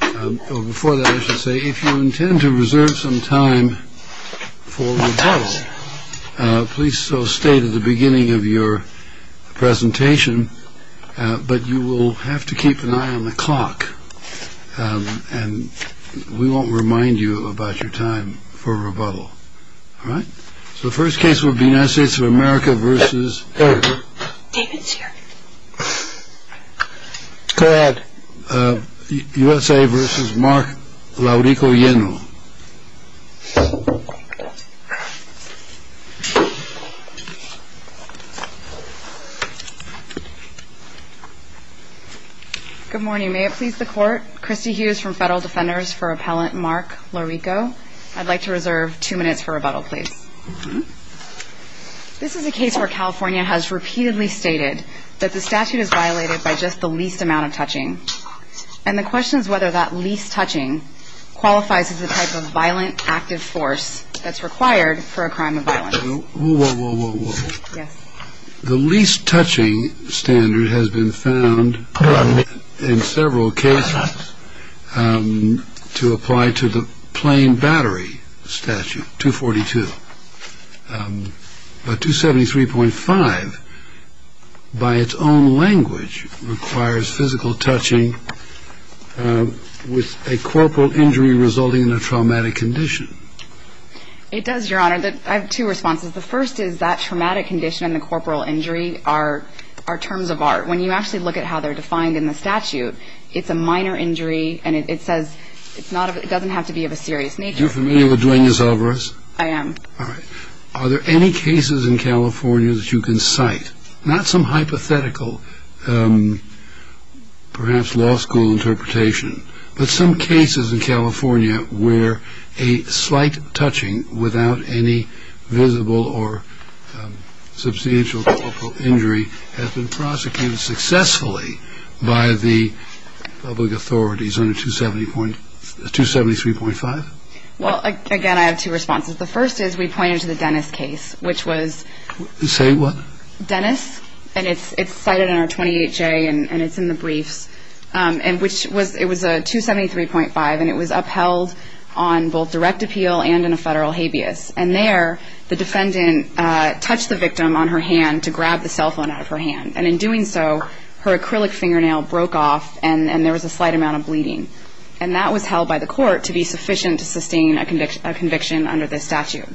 Before that, I should say, if you intend to reserve some time for rebuttal, please stay to the beginning of your presentation. But you will have to keep an eye on the clock. And we won't remind you about your time for rebuttal. All right. So the first case will be United States of America versus. David's here. Go ahead. USA versus Mark Laurico-Yeno. Good morning. May it please the court. Christy Hughes from federal defenders for appellant Mark Laurico. I'd like to reserve two minutes for rebuttal, please. This is a case where California has repeatedly stated that the statute is violated by just the least amount of touching. And the question is whether that least touching qualifies as a type of violent active force that's required for a crime of violence. Whoa, whoa, whoa, whoa. The least touching standard has been found in several cases to apply to the plain battery statute 242. But 273.5, by its own language, requires physical touching with a corporal injury resulting in a traumatic condition. It does, Your Honor. I have two responses. The first is that traumatic condition and the corporal injury are terms of art. When you actually look at how they're defined in the statute, it's a minor injury and it says it doesn't have to be of a serious nature. Are you familiar with doing this, Alvarez? I am. All right. Are there any cases in California that you can cite? Not some hypothetical, perhaps law school interpretation, but some cases in California where a slight touching without any visible or substantial corporal injury has been prosecuted successfully by the public authorities under 273.5? Well, again, I have two responses. The first is we pointed to the Dennis case, which was ‑‑ Say what? Dennis, and it's cited in our 28J and it's in the briefs, and it was a 273.5 and it was upheld on both direct appeal and in a federal habeas. And there the defendant touched the victim on her hand to grab the cell phone out of her hand. And in doing so, her acrylic fingernail broke off and there was a slight amount of bleeding. And that was held by the court to be sufficient to sustain a conviction under this statute.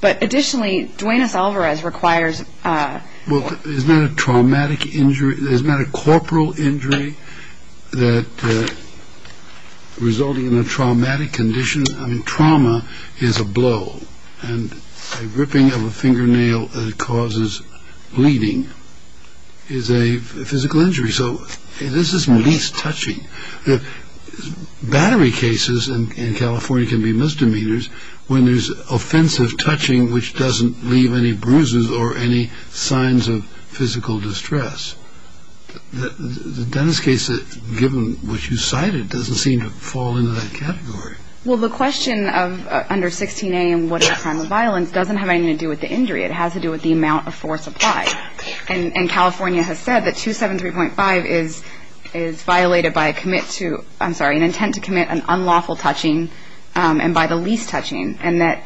But additionally, Duane S. Alvarez requires ‑‑ Well, isn't that a traumatic injury? Isn't that a corporal injury that resulted in a traumatic condition? I mean, trauma is a blow. And a ripping of a fingernail that causes bleeding is a physical injury. So this is least touching. Battery cases in California can be misdemeanors when there's offensive touching which doesn't leave any bruises or any signs of physical distress. The Dennis case, given what you cited, doesn't seem to fall into that category. Well, the question of under 16A and what is a crime of violence doesn't have anything to do with the injury. It has to do with the amount of force applied. And California has said that 273.5 is violated by a commit to ‑‑ I'm sorry, an intent to commit an unlawful touching and by the least touching. And that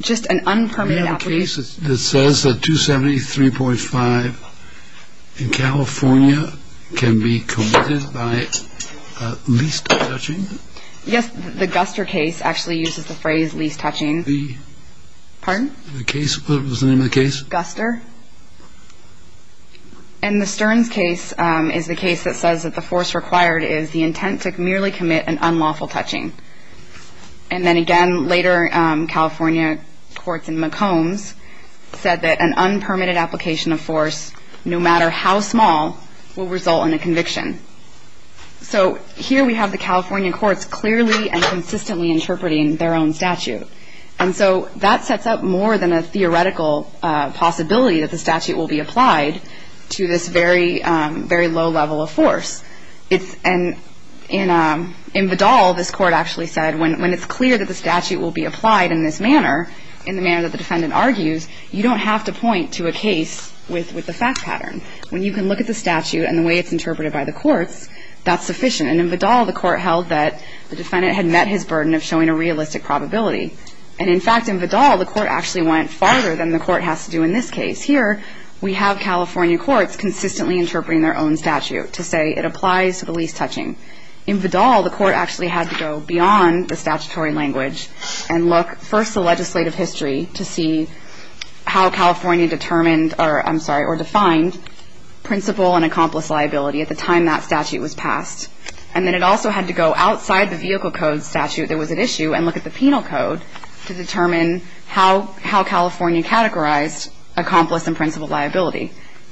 just an unpermitted ‑‑ We have a case that says that 273.5 in California can be committed by least touching. Yes, the Guster case actually uses the phrase least touching. The ‑‑ Pardon? The case, what was the name of the case? Guster. And the Stearns case is the case that says that the force required is the intent to merely commit an unlawful touching. And then again, later California courts in McCombs said that an unpermitted application of force, no matter how small, will result in a conviction. So here we have the California courts clearly and consistently interpreting their own statute. And so that sets up more than a theoretical possibility that the statute will be applied to this very low level of force. And in Vidal, this court actually said when it's clear that the statute will be applied in this manner, in the manner that the defendant argues, you don't have to point to a case with a fact pattern. When you can look at the statute and the way it's interpreted by the courts, that's sufficient. And in Vidal, the court held that the defendant had met his burden of showing a realistic probability. And, in fact, in Vidal, the court actually went farther than the court has to do in this case. Here we have California courts consistently interpreting their own statute to say it applies to the least touching. In Vidal, the court actually had to go beyond the statutory language and look first to legislative history to see how California determined or, I'm sorry, or defined principal and accomplice liability at the time that statute was passed. And then it also had to go outside the vehicle code statute that was at issue and look at the penal code to determine how California categorized accomplice and principal liability.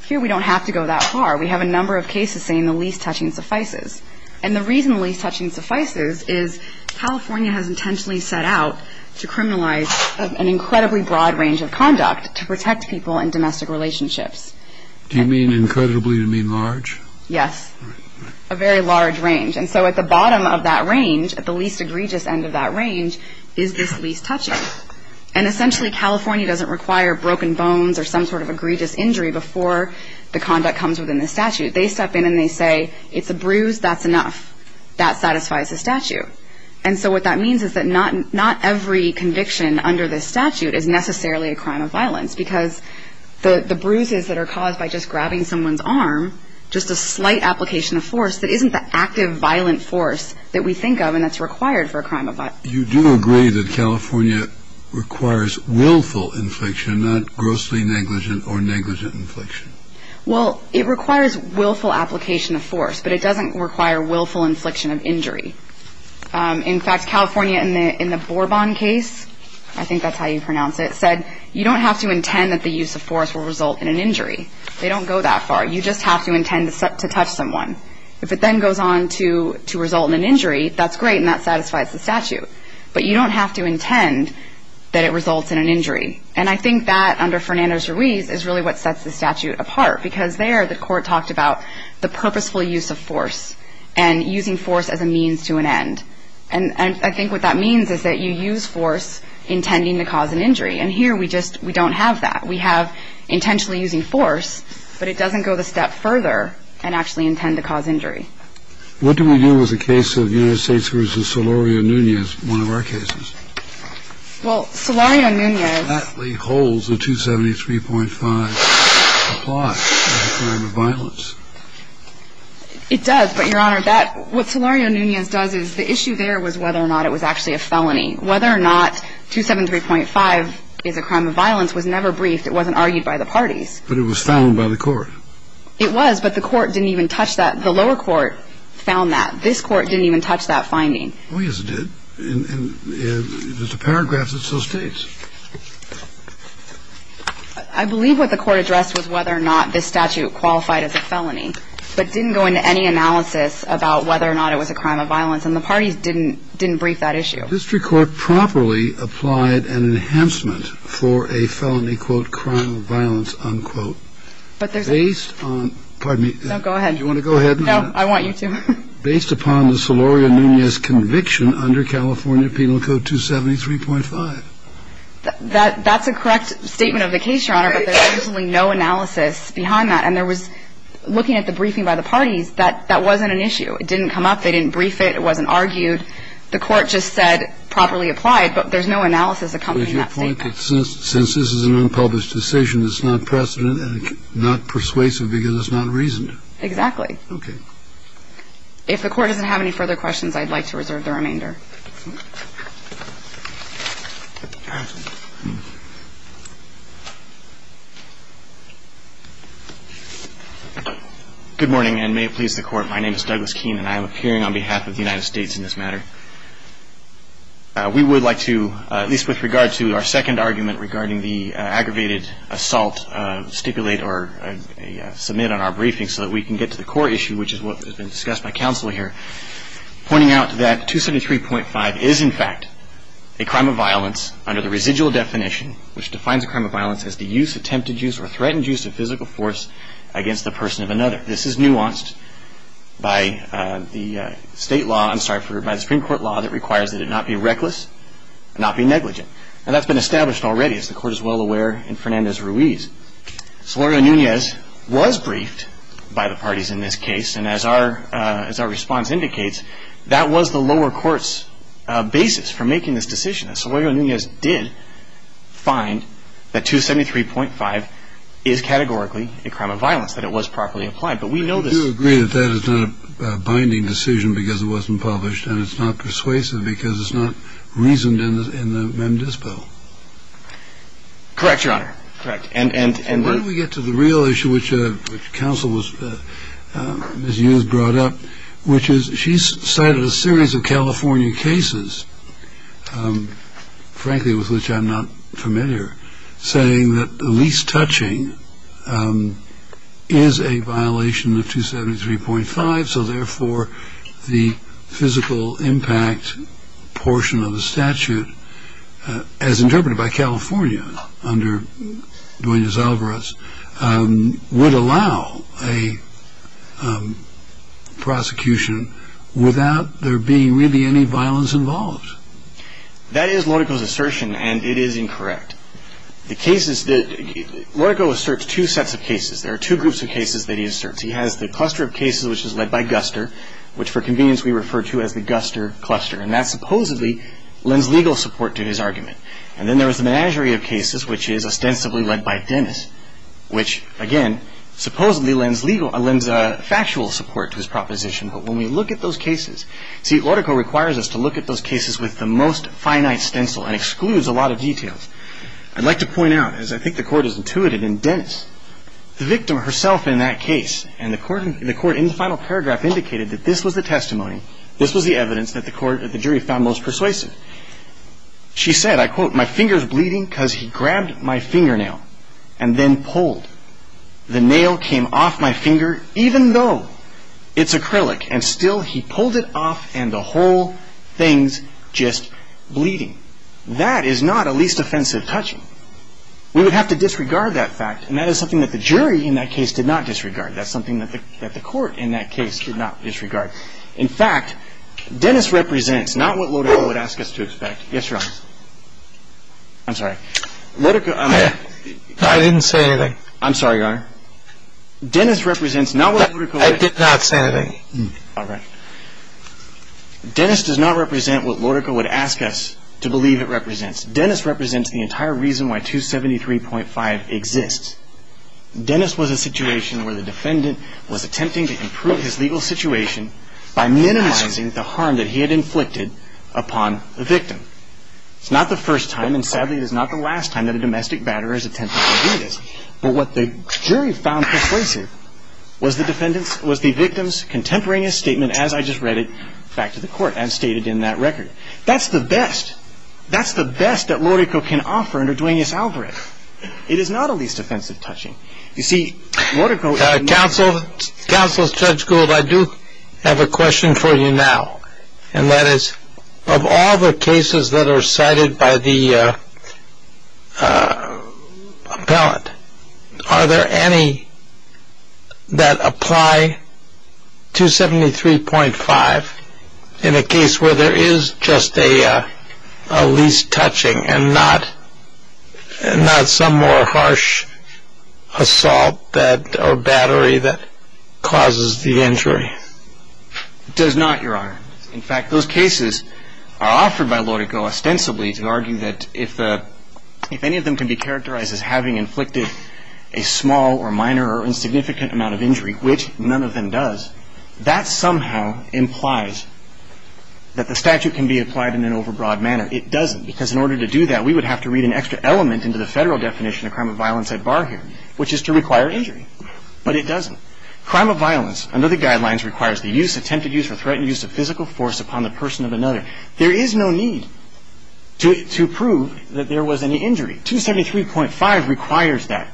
Here we don't have to go that far. We have a number of cases saying the least touching suffices. And the reason the least touching suffices is California has intentionally set out to criminalize an incredibly broad range of conduct to protect people in domestic relationships. Do you mean incredibly? Do you mean large? Yes, a very large range. And so at the bottom of that range, at the least egregious end of that range, is this least touching. And essentially California doesn't require broken bones or some sort of egregious injury before the conduct comes within the statute. They step in and they say it's a bruise, that's enough, that satisfies the statute. And so what that means is that not every conviction under this statute is necessarily a crime of violence because the bruises that are caused by just grabbing someone's arm, just a slight application of force that isn't the active violent force that we think of and that's required for a crime of violence. You do agree that California requires willful infliction, not grossly negligent or negligent infliction. Well, it requires willful application of force, but it doesn't require willful infliction of injury. In fact, California in the Borbon case, I think that's how you pronounce it, said you don't have to intend that the use of force will result in an injury. They don't go that far. You just have to intend to touch someone. If it then goes on to result in an injury, that's great and that satisfies the statute. But you don't have to intend that it results in an injury. And I think that under Fernando Ruiz is really what sets the statute apart because there the court talked about the purposeful use of force and using force as a means to an end. And I think what that means is that you use force intending to cause an injury. And here we just don't have that. We have intentionally using force, but it doesn't go the step further and actually intend to cause injury. What do we do with the case of United States v. Solorio Nunez, one of our cases? Well, Solorio Nunez. That holds the 273.5 apply for a crime of violence. It does, but, Your Honor, that what Solorio Nunez does is the issue there was whether or not it was actually a felony. Whether or not 273.5 is a crime of violence was never briefed. It wasn't argued by the parties. But it was found by the court. It was, but the court didn't even touch that. The lower court found that. This court didn't even touch that finding. Oh, yes, it did. And there's a paragraph that so states. I believe what the court addressed was whether or not this statute qualified as a felony, but didn't go into any analysis about whether or not it was a crime of violence, and the parties didn't brief that issue. The district court properly applied an enhancement for a felony, quote, crime of violence, unquote, based on, pardon me. No, go ahead. Do you want to go ahead? No, I want you to. Based upon the Solorio Nunez conviction under California Penal Code 273.5. That's a correct statement of the case, Your Honor. But there's absolutely no analysis behind that. And there was, looking at the briefing by the parties, that wasn't an issue. It didn't come up. They didn't brief it. It wasn't argued. The court just said properly applied. But there's no analysis accompanying that statement. Since this is an unpublished decision, it's not precedent and not persuasive because it's not reasoned. Exactly. Okay. If the court doesn't have any further questions, I'd like to reserve the remainder. Good morning, and may it please the Court. My name is Douglas Keene, and I am appearing on behalf of the United States in this matter. We would like to, at least with regard to our second argument regarding the aggravated assault, stipulate or submit on our briefing so that we can get to the core issue, which is what has been discussed by counsel here, is in fact a crime of violence under the residual definition, which defines a crime of violence as the use, attempted use, or threatened use of physical force against the person of another. This is nuanced by the state law, I'm sorry, by the Supreme Court law, that requires that it not be reckless and not be negligent. And that's been established already, as the Court is well aware, in Fernandez-Ruiz. Solorio-Nunez was briefed by the parties in this case. And as our response indicates, that was the lower court's basis for making this decision. Solorio-Nunez did find that 273.5 is categorically a crime of violence, that it was properly applied. But we know this. Do you agree that that is not a binding decision because it wasn't published and it's not persuasive because it's not reasoned in the MENDIS bill? Correct, Your Honor. Correct. Why don't we get to the real issue which counsel Ms. Hughes brought up, which is she's cited a series of California cases, frankly, with which I'm not familiar, saying that the least touching is a violation of 273.5, so therefore the physical impact portion of the statute, as interpreted by California under Duenas-Alvarez, would allow a prosecution without there being really any violence involved. That is Lodico's assertion, and it is incorrect. The cases that Lodico asserts two sets of cases. There are two groups of cases that he asserts. He has the cluster of cases which is led by Guster, which for convenience we refer to as the Guster cluster. And that supposedly lends legal support to his argument. And then there is the menagerie of cases which is ostensibly led by Dennis, which, again, supposedly lends factual support to his proposition. But when we look at those cases, see, Lodico requires us to look at those cases with the most finite stencil and excludes a lot of details. I'd like to point out, as I think the Court has intuited in Dennis, the victim herself in that case and the Court in the final paragraph indicated that this was the testimony, this was the evidence that the Court, that the jury found most persuasive. She said, I quote, My finger's bleeding because he grabbed my fingernail and then pulled. The nail came off my finger, even though it's acrylic, and still he pulled it off and the whole thing's just bleeding. That is not a least offensive touching. We would have to disregard that fact, and that is something that the jury in that case did not disregard. That's something that the Court in that case did not disregard. In fact, Dennis represents not what Lodico would ask us to expect. Yes, Your Honor. I'm sorry. Lodico. I didn't say anything. I'm sorry, Your Honor. Dennis represents not what Lodico would. I did not say anything. All right. Dennis does not represent what Lodico would ask us to believe it represents. Dennis represents the entire reason why 273.5 exists. Dennis was a situation where the defendant was attempting to improve his legal situation by minimizing the harm that he had inflicted upon the victim. It's not the first time, and sadly it is not the last time, that a domestic batterer has attempted to do this. But what the jury found persuasive was the victim's contemporaneous statement, as I just read it back to the Court and stated in that record. That's the best. That's the best that Lodico can offer under Duenas-Alvarez. It is not a least offensive touching. You see, Lodico. Counsel, Judge Gould, I do have a question for you now, and that is of all the cases that are cited by the appellant, are there any that apply 273.5 in a case where there is just a least touching and not some more harsh assault or battery that causes the injury? It does not, Your Honor. In fact, those cases are offered by Lodico ostensibly to argue that if any of them can be characterized as having inflicted a small or minor or insignificant amount of injury, which none of them does, that somehow implies that the statute can be applied in an overbroad manner. It doesn't. Because in order to do that, we would have to read an extra element into the Federal definition of crime of violence at bar here, which is to require injury. But it doesn't. Crime of violence under the guidelines requires the use, attempted use, or threatened use of physical force upon the person of another. There is no need to prove that there was any injury. 273.5 requires that.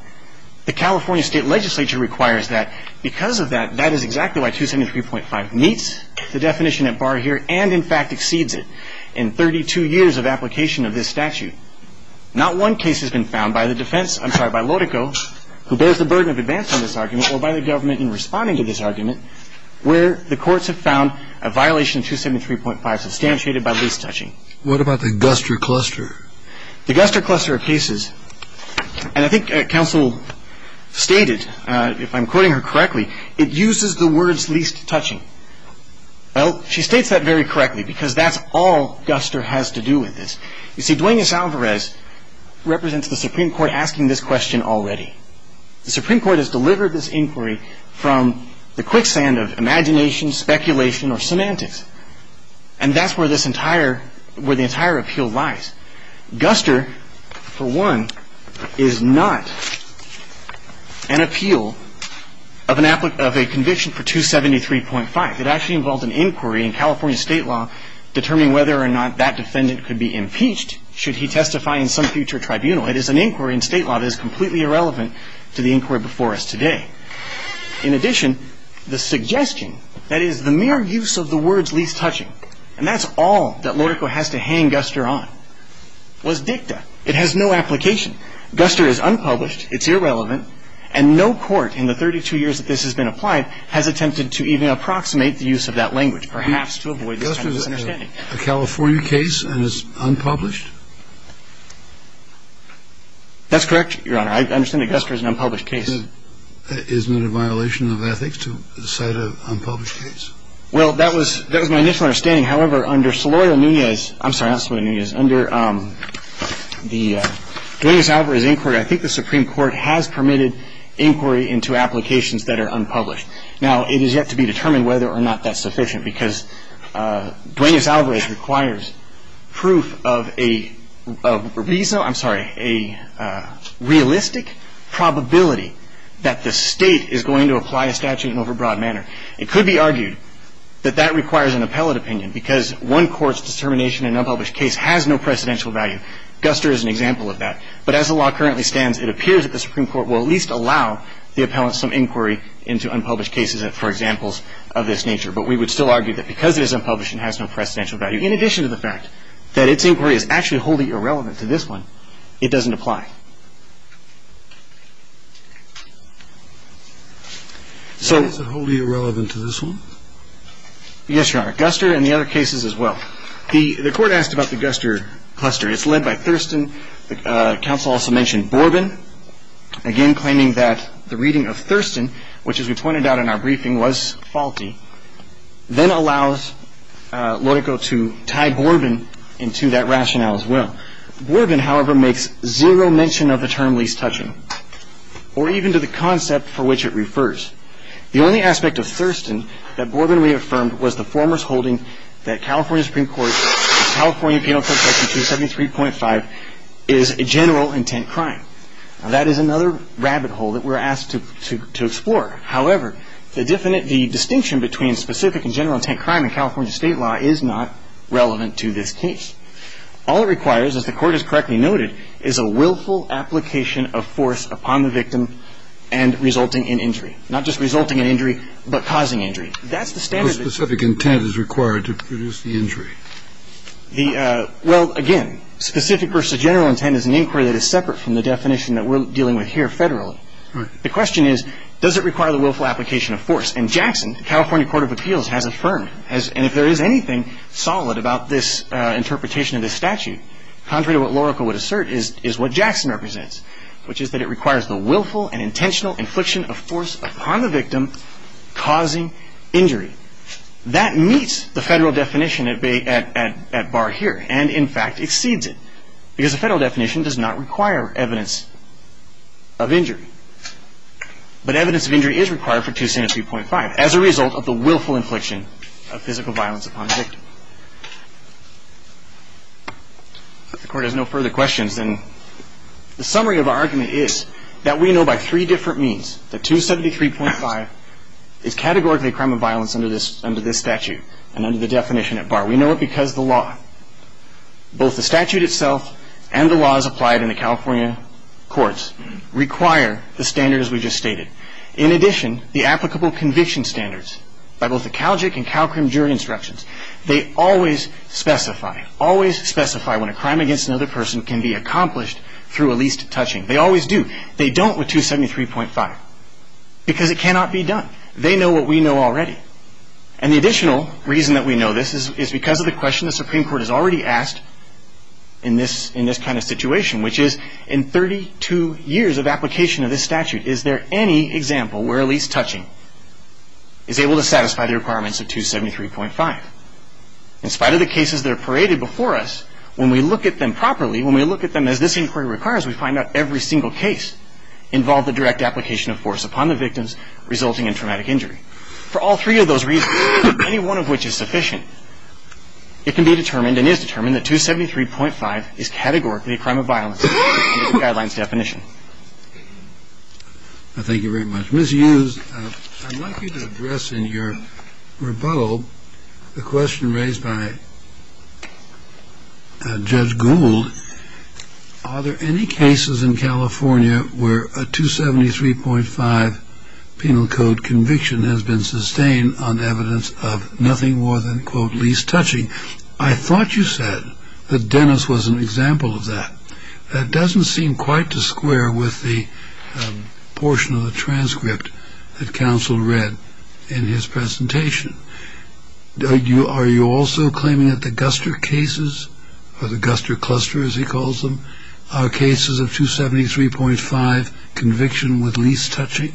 The California State Legislature requires that. Because of that, that is exactly why 273.5 meets the definition at bar here and, in fact, exceeds it. And the Federal Defense Department has been working tirelessly on this case and 32 years of application of this statute. Not one case has been found by the defense – I'm sorry, by Lodico, who bears the burden of advancing this argument, or by the government in responding to this argument, where the courts have found a violation of 273.5 substantiated by least touching. What about the Guster cluster? The Guster cluster of cases. And I think counsel stated, if I'm quoting her correctly, it uses the words least touching. Well, she states that very correctly, because that's all Guster has to do with this. You see, Duenas-Alvarez represents the Supreme Court asking this question already. The Supreme Court has delivered this inquiry from the quicksand of imagination, speculation, or semantics. And that's where this entire – where the entire appeal lies. Guster, for one, is not an appeal of an – of a conviction for 273.5. It actually involved an inquiry in California state law determining whether or not that defendant could be impeached should he testify in some future tribunal. It is an inquiry in state law that is completely irrelevant to the inquiry before us today. In addition, the suggestion – that is, the mere use of the words least touching. And that's all that Lodico has to hang Guster on. It was dicta. It has no application. Guster is unpublished, it's irrelevant, and no court in the 32 years that this has been applied has attempted to even approximate the use of that language, perhaps to avoid this kind of misunderstanding. Guster is a California case and it's unpublished? That's correct, Your Honor. I understand that Guster is an unpublished case. Isn't it a violation of ethics to cite an unpublished case? Well, that was – that was my initial understanding. However, under Celoya Nunez – I'm sorry, not Celoya Nunez – under the Duenas-Alvarez inquiry, I think the Supreme Court has permitted inquiry into applications that are unpublished. Now, it is yet to be determined whether or not that's sufficient because Duenas-Alvarez requires proof of a – I'm sorry – a realistic probability that the state is going to apply a statute in an overbroad manner. It could be argued that that requires an appellate opinion because one court's determination in an unpublished case has no precedential value. Guster is an example of that. But as the law currently stands, it appears that the Supreme Court will at least allow the appellant some inquiry into unpublished cases for examples of this nature. But we would still argue that because it is unpublished and has no precedential value, in addition to the fact that its inquiry is actually wholly irrelevant to this one, it doesn't apply. So – Is it wholly irrelevant to this one? Yes, Your Honor. Guster and the other cases as well. The court asked about the Guster cluster. It's led by Thurston. The counsel also mentioned Borbin, again claiming that the reading of Thurston, which, as we pointed out in our briefing, was faulty, then allows Lodico to tie Borbin into that rationale as well. Borbin, however, makes zero mention of the Guster cluster. He makes no mention of the term least touching, or even to the concept for which it refers. The only aspect of Thurston that Borbin reaffirmed was the former's holding that California Supreme Court's California Penal Code Section 273.5 is a general intent crime. Now, that is another rabbit hole that we're asked to explore. However, the distinction between specific and general intent crime in California state law is not relevant to this case. All it requires, as the Court has correctly noted, is a willful application of force upon the victim and resulting in injury. Not just resulting in injury, but causing injury. That's the standard. What specific intent is required to produce the injury? Well, again, specific versus general intent is an inquiry that is separate from the definition that we're dealing with here federally. Right. The question is, does it require the willful application of force? And Jackson, California Court of Appeals, has affirmed, and if there is anything solid about this interpretation of this statute, contrary to what Loroco would assert, is what Jackson represents, which is that it requires the willful and intentional infliction of force upon the victim causing injury. That meets the federal definition at bar here and, in fact, exceeds it, because the federal definition does not require evidence of injury. But evidence of injury is required for 273.5 as a result of the willful infliction of physical violence upon the victim. If the Court has no further questions, then the summary of our argument is that we know by three different means that 273.5 is categorically a crime of violence under this statute and under the definition at bar. We know it because the law, both the statute itself and the laws applied in the California courts, require the standards we just stated. In addition, the applicable conviction standards by both the CALJIC and CALCRIM jury instructions, they always specify, always specify when a crime against another person can be accomplished through a least touching. They always do. They don't with 273.5 because it cannot be done. They know what we know already. And the additional reason that we know this is because of the question the Supreme Court has already asked in this kind of situation, which is, in 32 years of application of this statute, is there any example where a least touching is able to satisfy the requirements of 273.5? In spite of the cases that are paraded before us, when we look at them properly, when we look at them as this inquiry requires, we find out every single case involved the direct application of force upon the victims resulting in traumatic injury. For all three of those reasons, any one of which is sufficient, it can be determined and is determined that 273.5 is categorically a crime of violence in the guidelines definition. Thank you very much. Ms. Hughes, I'd like you to address in your rebuttal the question raised by Judge Gould. Are there any cases in California where a 273.5 penal code conviction has been sustained on evidence of nothing more than, quote, least touching? I thought you said that Dennis was an example of that. That doesn't seem quite to square with the portion of the transcript that counsel read in his presentation. Are you also claiming that the Guster cases, or the Guster cluster, as he calls them, are cases of 273.5 conviction with least touching?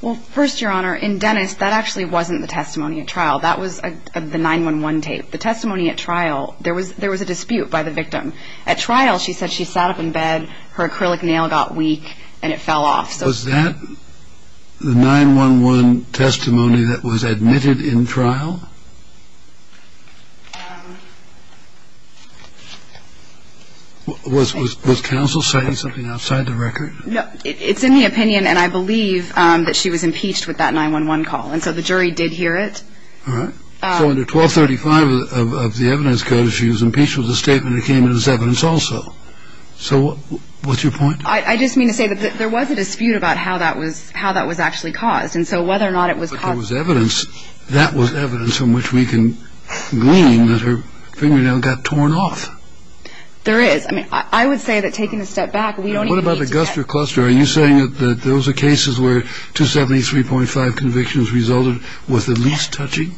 Well, first, Your Honor, in Dennis, that actually wasn't the testimony at trial. That was the 911 tape. The testimony at trial, there was a dispute by the victim. At trial, she said she sat up in bed, her acrylic nail got weak, and it fell off. Was that the 911 testimony that was admitted in trial? Was counsel saying something outside the record? It's in the opinion, and I believe, that she was impeached with that 911 call. And so the jury did hear it. All right. So under 1235 of the evidence code, she was impeached with a statement that came in as evidence also. So what's your point? I just mean to say that there was a dispute about how that was actually caused. And so whether or not it was caused by the evidence, that was evidence from which we can glean that her fingernail got torn off. There is. I mean, I would say that taking a step back, we don't even need to get to that. What about the Guster cluster? Are you saying that those are cases where 273.5 convictions resulted with the least touching?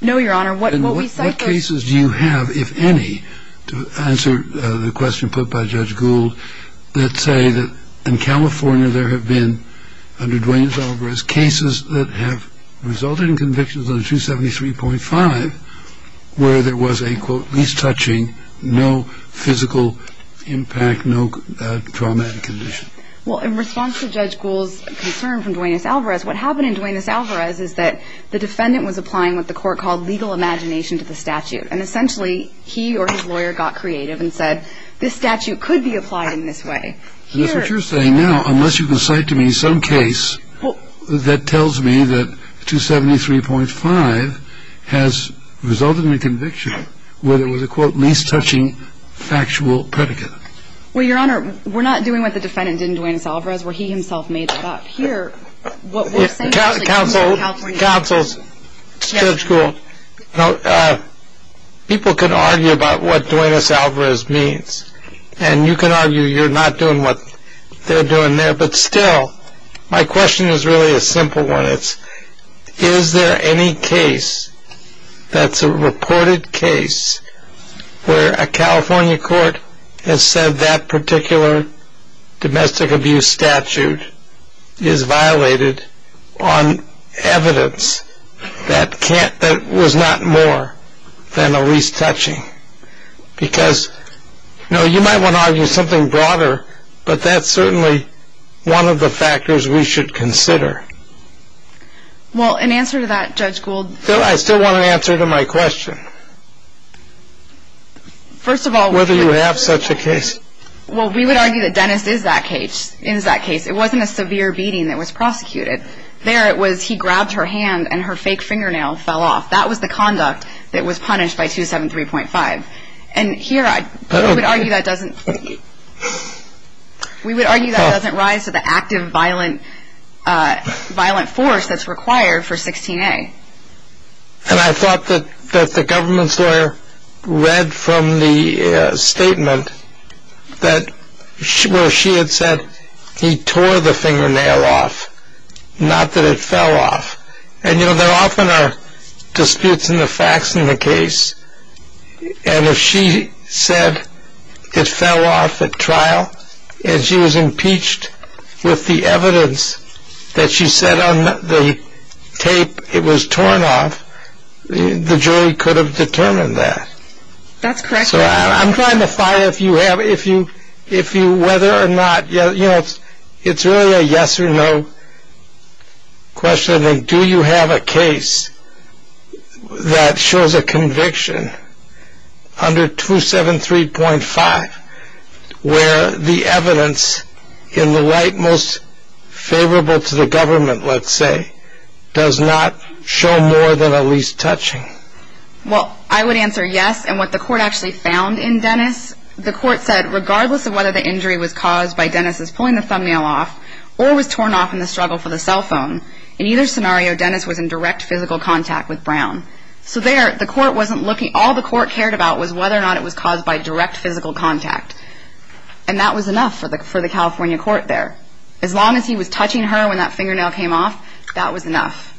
No, Your Honor. And what cases do you have, if any, to answer the question put by Judge Gould, that say that in California there have been, under Duane's alibis, cases that have resulted in convictions under 273.5 where there was a, quote, least touching, no physical impact, no traumatic condition? Well, in response to Judge Gould's concern from Duane S. Alvarez, what happened in Duane S. Alvarez is that the defendant was applying what the court called legal imagination to the statute. And essentially, he or his lawyer got creative and said, this statute could be applied in this way. That's what you're saying now, unless you can cite to me some case that tells me that 273.5 has resulted in a conviction where there was a, quote, least touching factual predicate. Well, Your Honor, we're not doing what the defendant did in Duane S. Alvarez where he himself made that up. Here, what we're saying is that in California. Counsels, Judge Gould, people can argue about what Duane S. Alvarez means, and you can argue you're not doing what they're doing there. But still, my question is really a simple one. Is there any case that's a reported case where a California court has said that particular domestic abuse statute is violated on evidence that was not more than a least touching? Because, you know, you might want to argue something broader, but that's certainly one of the factors we should consider. Well, in answer to that, Judge Gould. I still want an answer to my question. First of all. Whether you have such a case. Well, we would argue that Dennis is that case. It wasn't a severe beating that was prosecuted. There, it was he grabbed her hand and her fake fingernail fell off. That was the conduct that was punished by 273.5. And here, we would argue that doesn't rise to the active violent force that's required for 16A. And I thought that the government's lawyer read from the statement where she had said he tore the fingernail off, not that it fell off. And, you know, there often are disputes in the facts in the case. And if she said it fell off at trial and she was impeached with the evidence that she said on the tape it was torn off, the jury could have determined that. That's correct. So I'm trying to find if you whether or not, you know, it's really a yes or no question. And do you have a case that shows a conviction under 273.5 where the evidence in the light most favorable to the government, let's say, does not show more than a least touching? Well, I would answer yes. And what the court actually found in Dennis, the court said, regardless of whether the injury was caused by Dennis's pulling the thumbnail off or was torn off in the struggle for the cell phone, in either scenario, Dennis was in direct physical contact with Brown. So there, the court wasn't looking. All the court cared about was whether or not it was caused by direct physical contact. And that was enough for the California court there. As long as he was touching her when that fingernail came off, that was enough.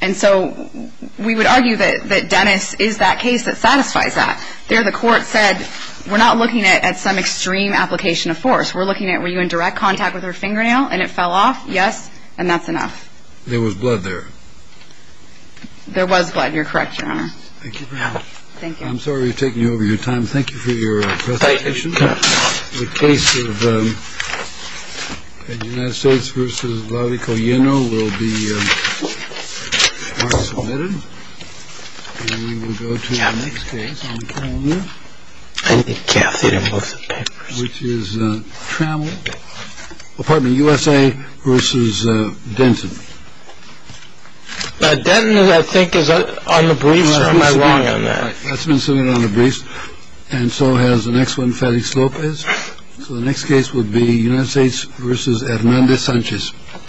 And so we would argue that Dennis is that case that satisfies that there. The court said, we're not looking at some extreme application of force. We're looking at were you in direct contact with her fingernail and it fell off? Yes. And that's enough. There was blood there. There was blood. You're correct, Your Honor. Thank you. Thank you. I'm sorry to take you over your time. Thank you for your presentation. The case of the United States versus the article, you know, will be submitted. And we will go to the next case. I need Kathy to move the papers. Which is Trammell. Pardon me, USA versus Denton. Denton, I think, is on the briefs. Or am I wrong on that? That's been submitted on the briefs. And so has the next one. Felix Lopez. So the next case would be United States versus Hernandez Sanchez.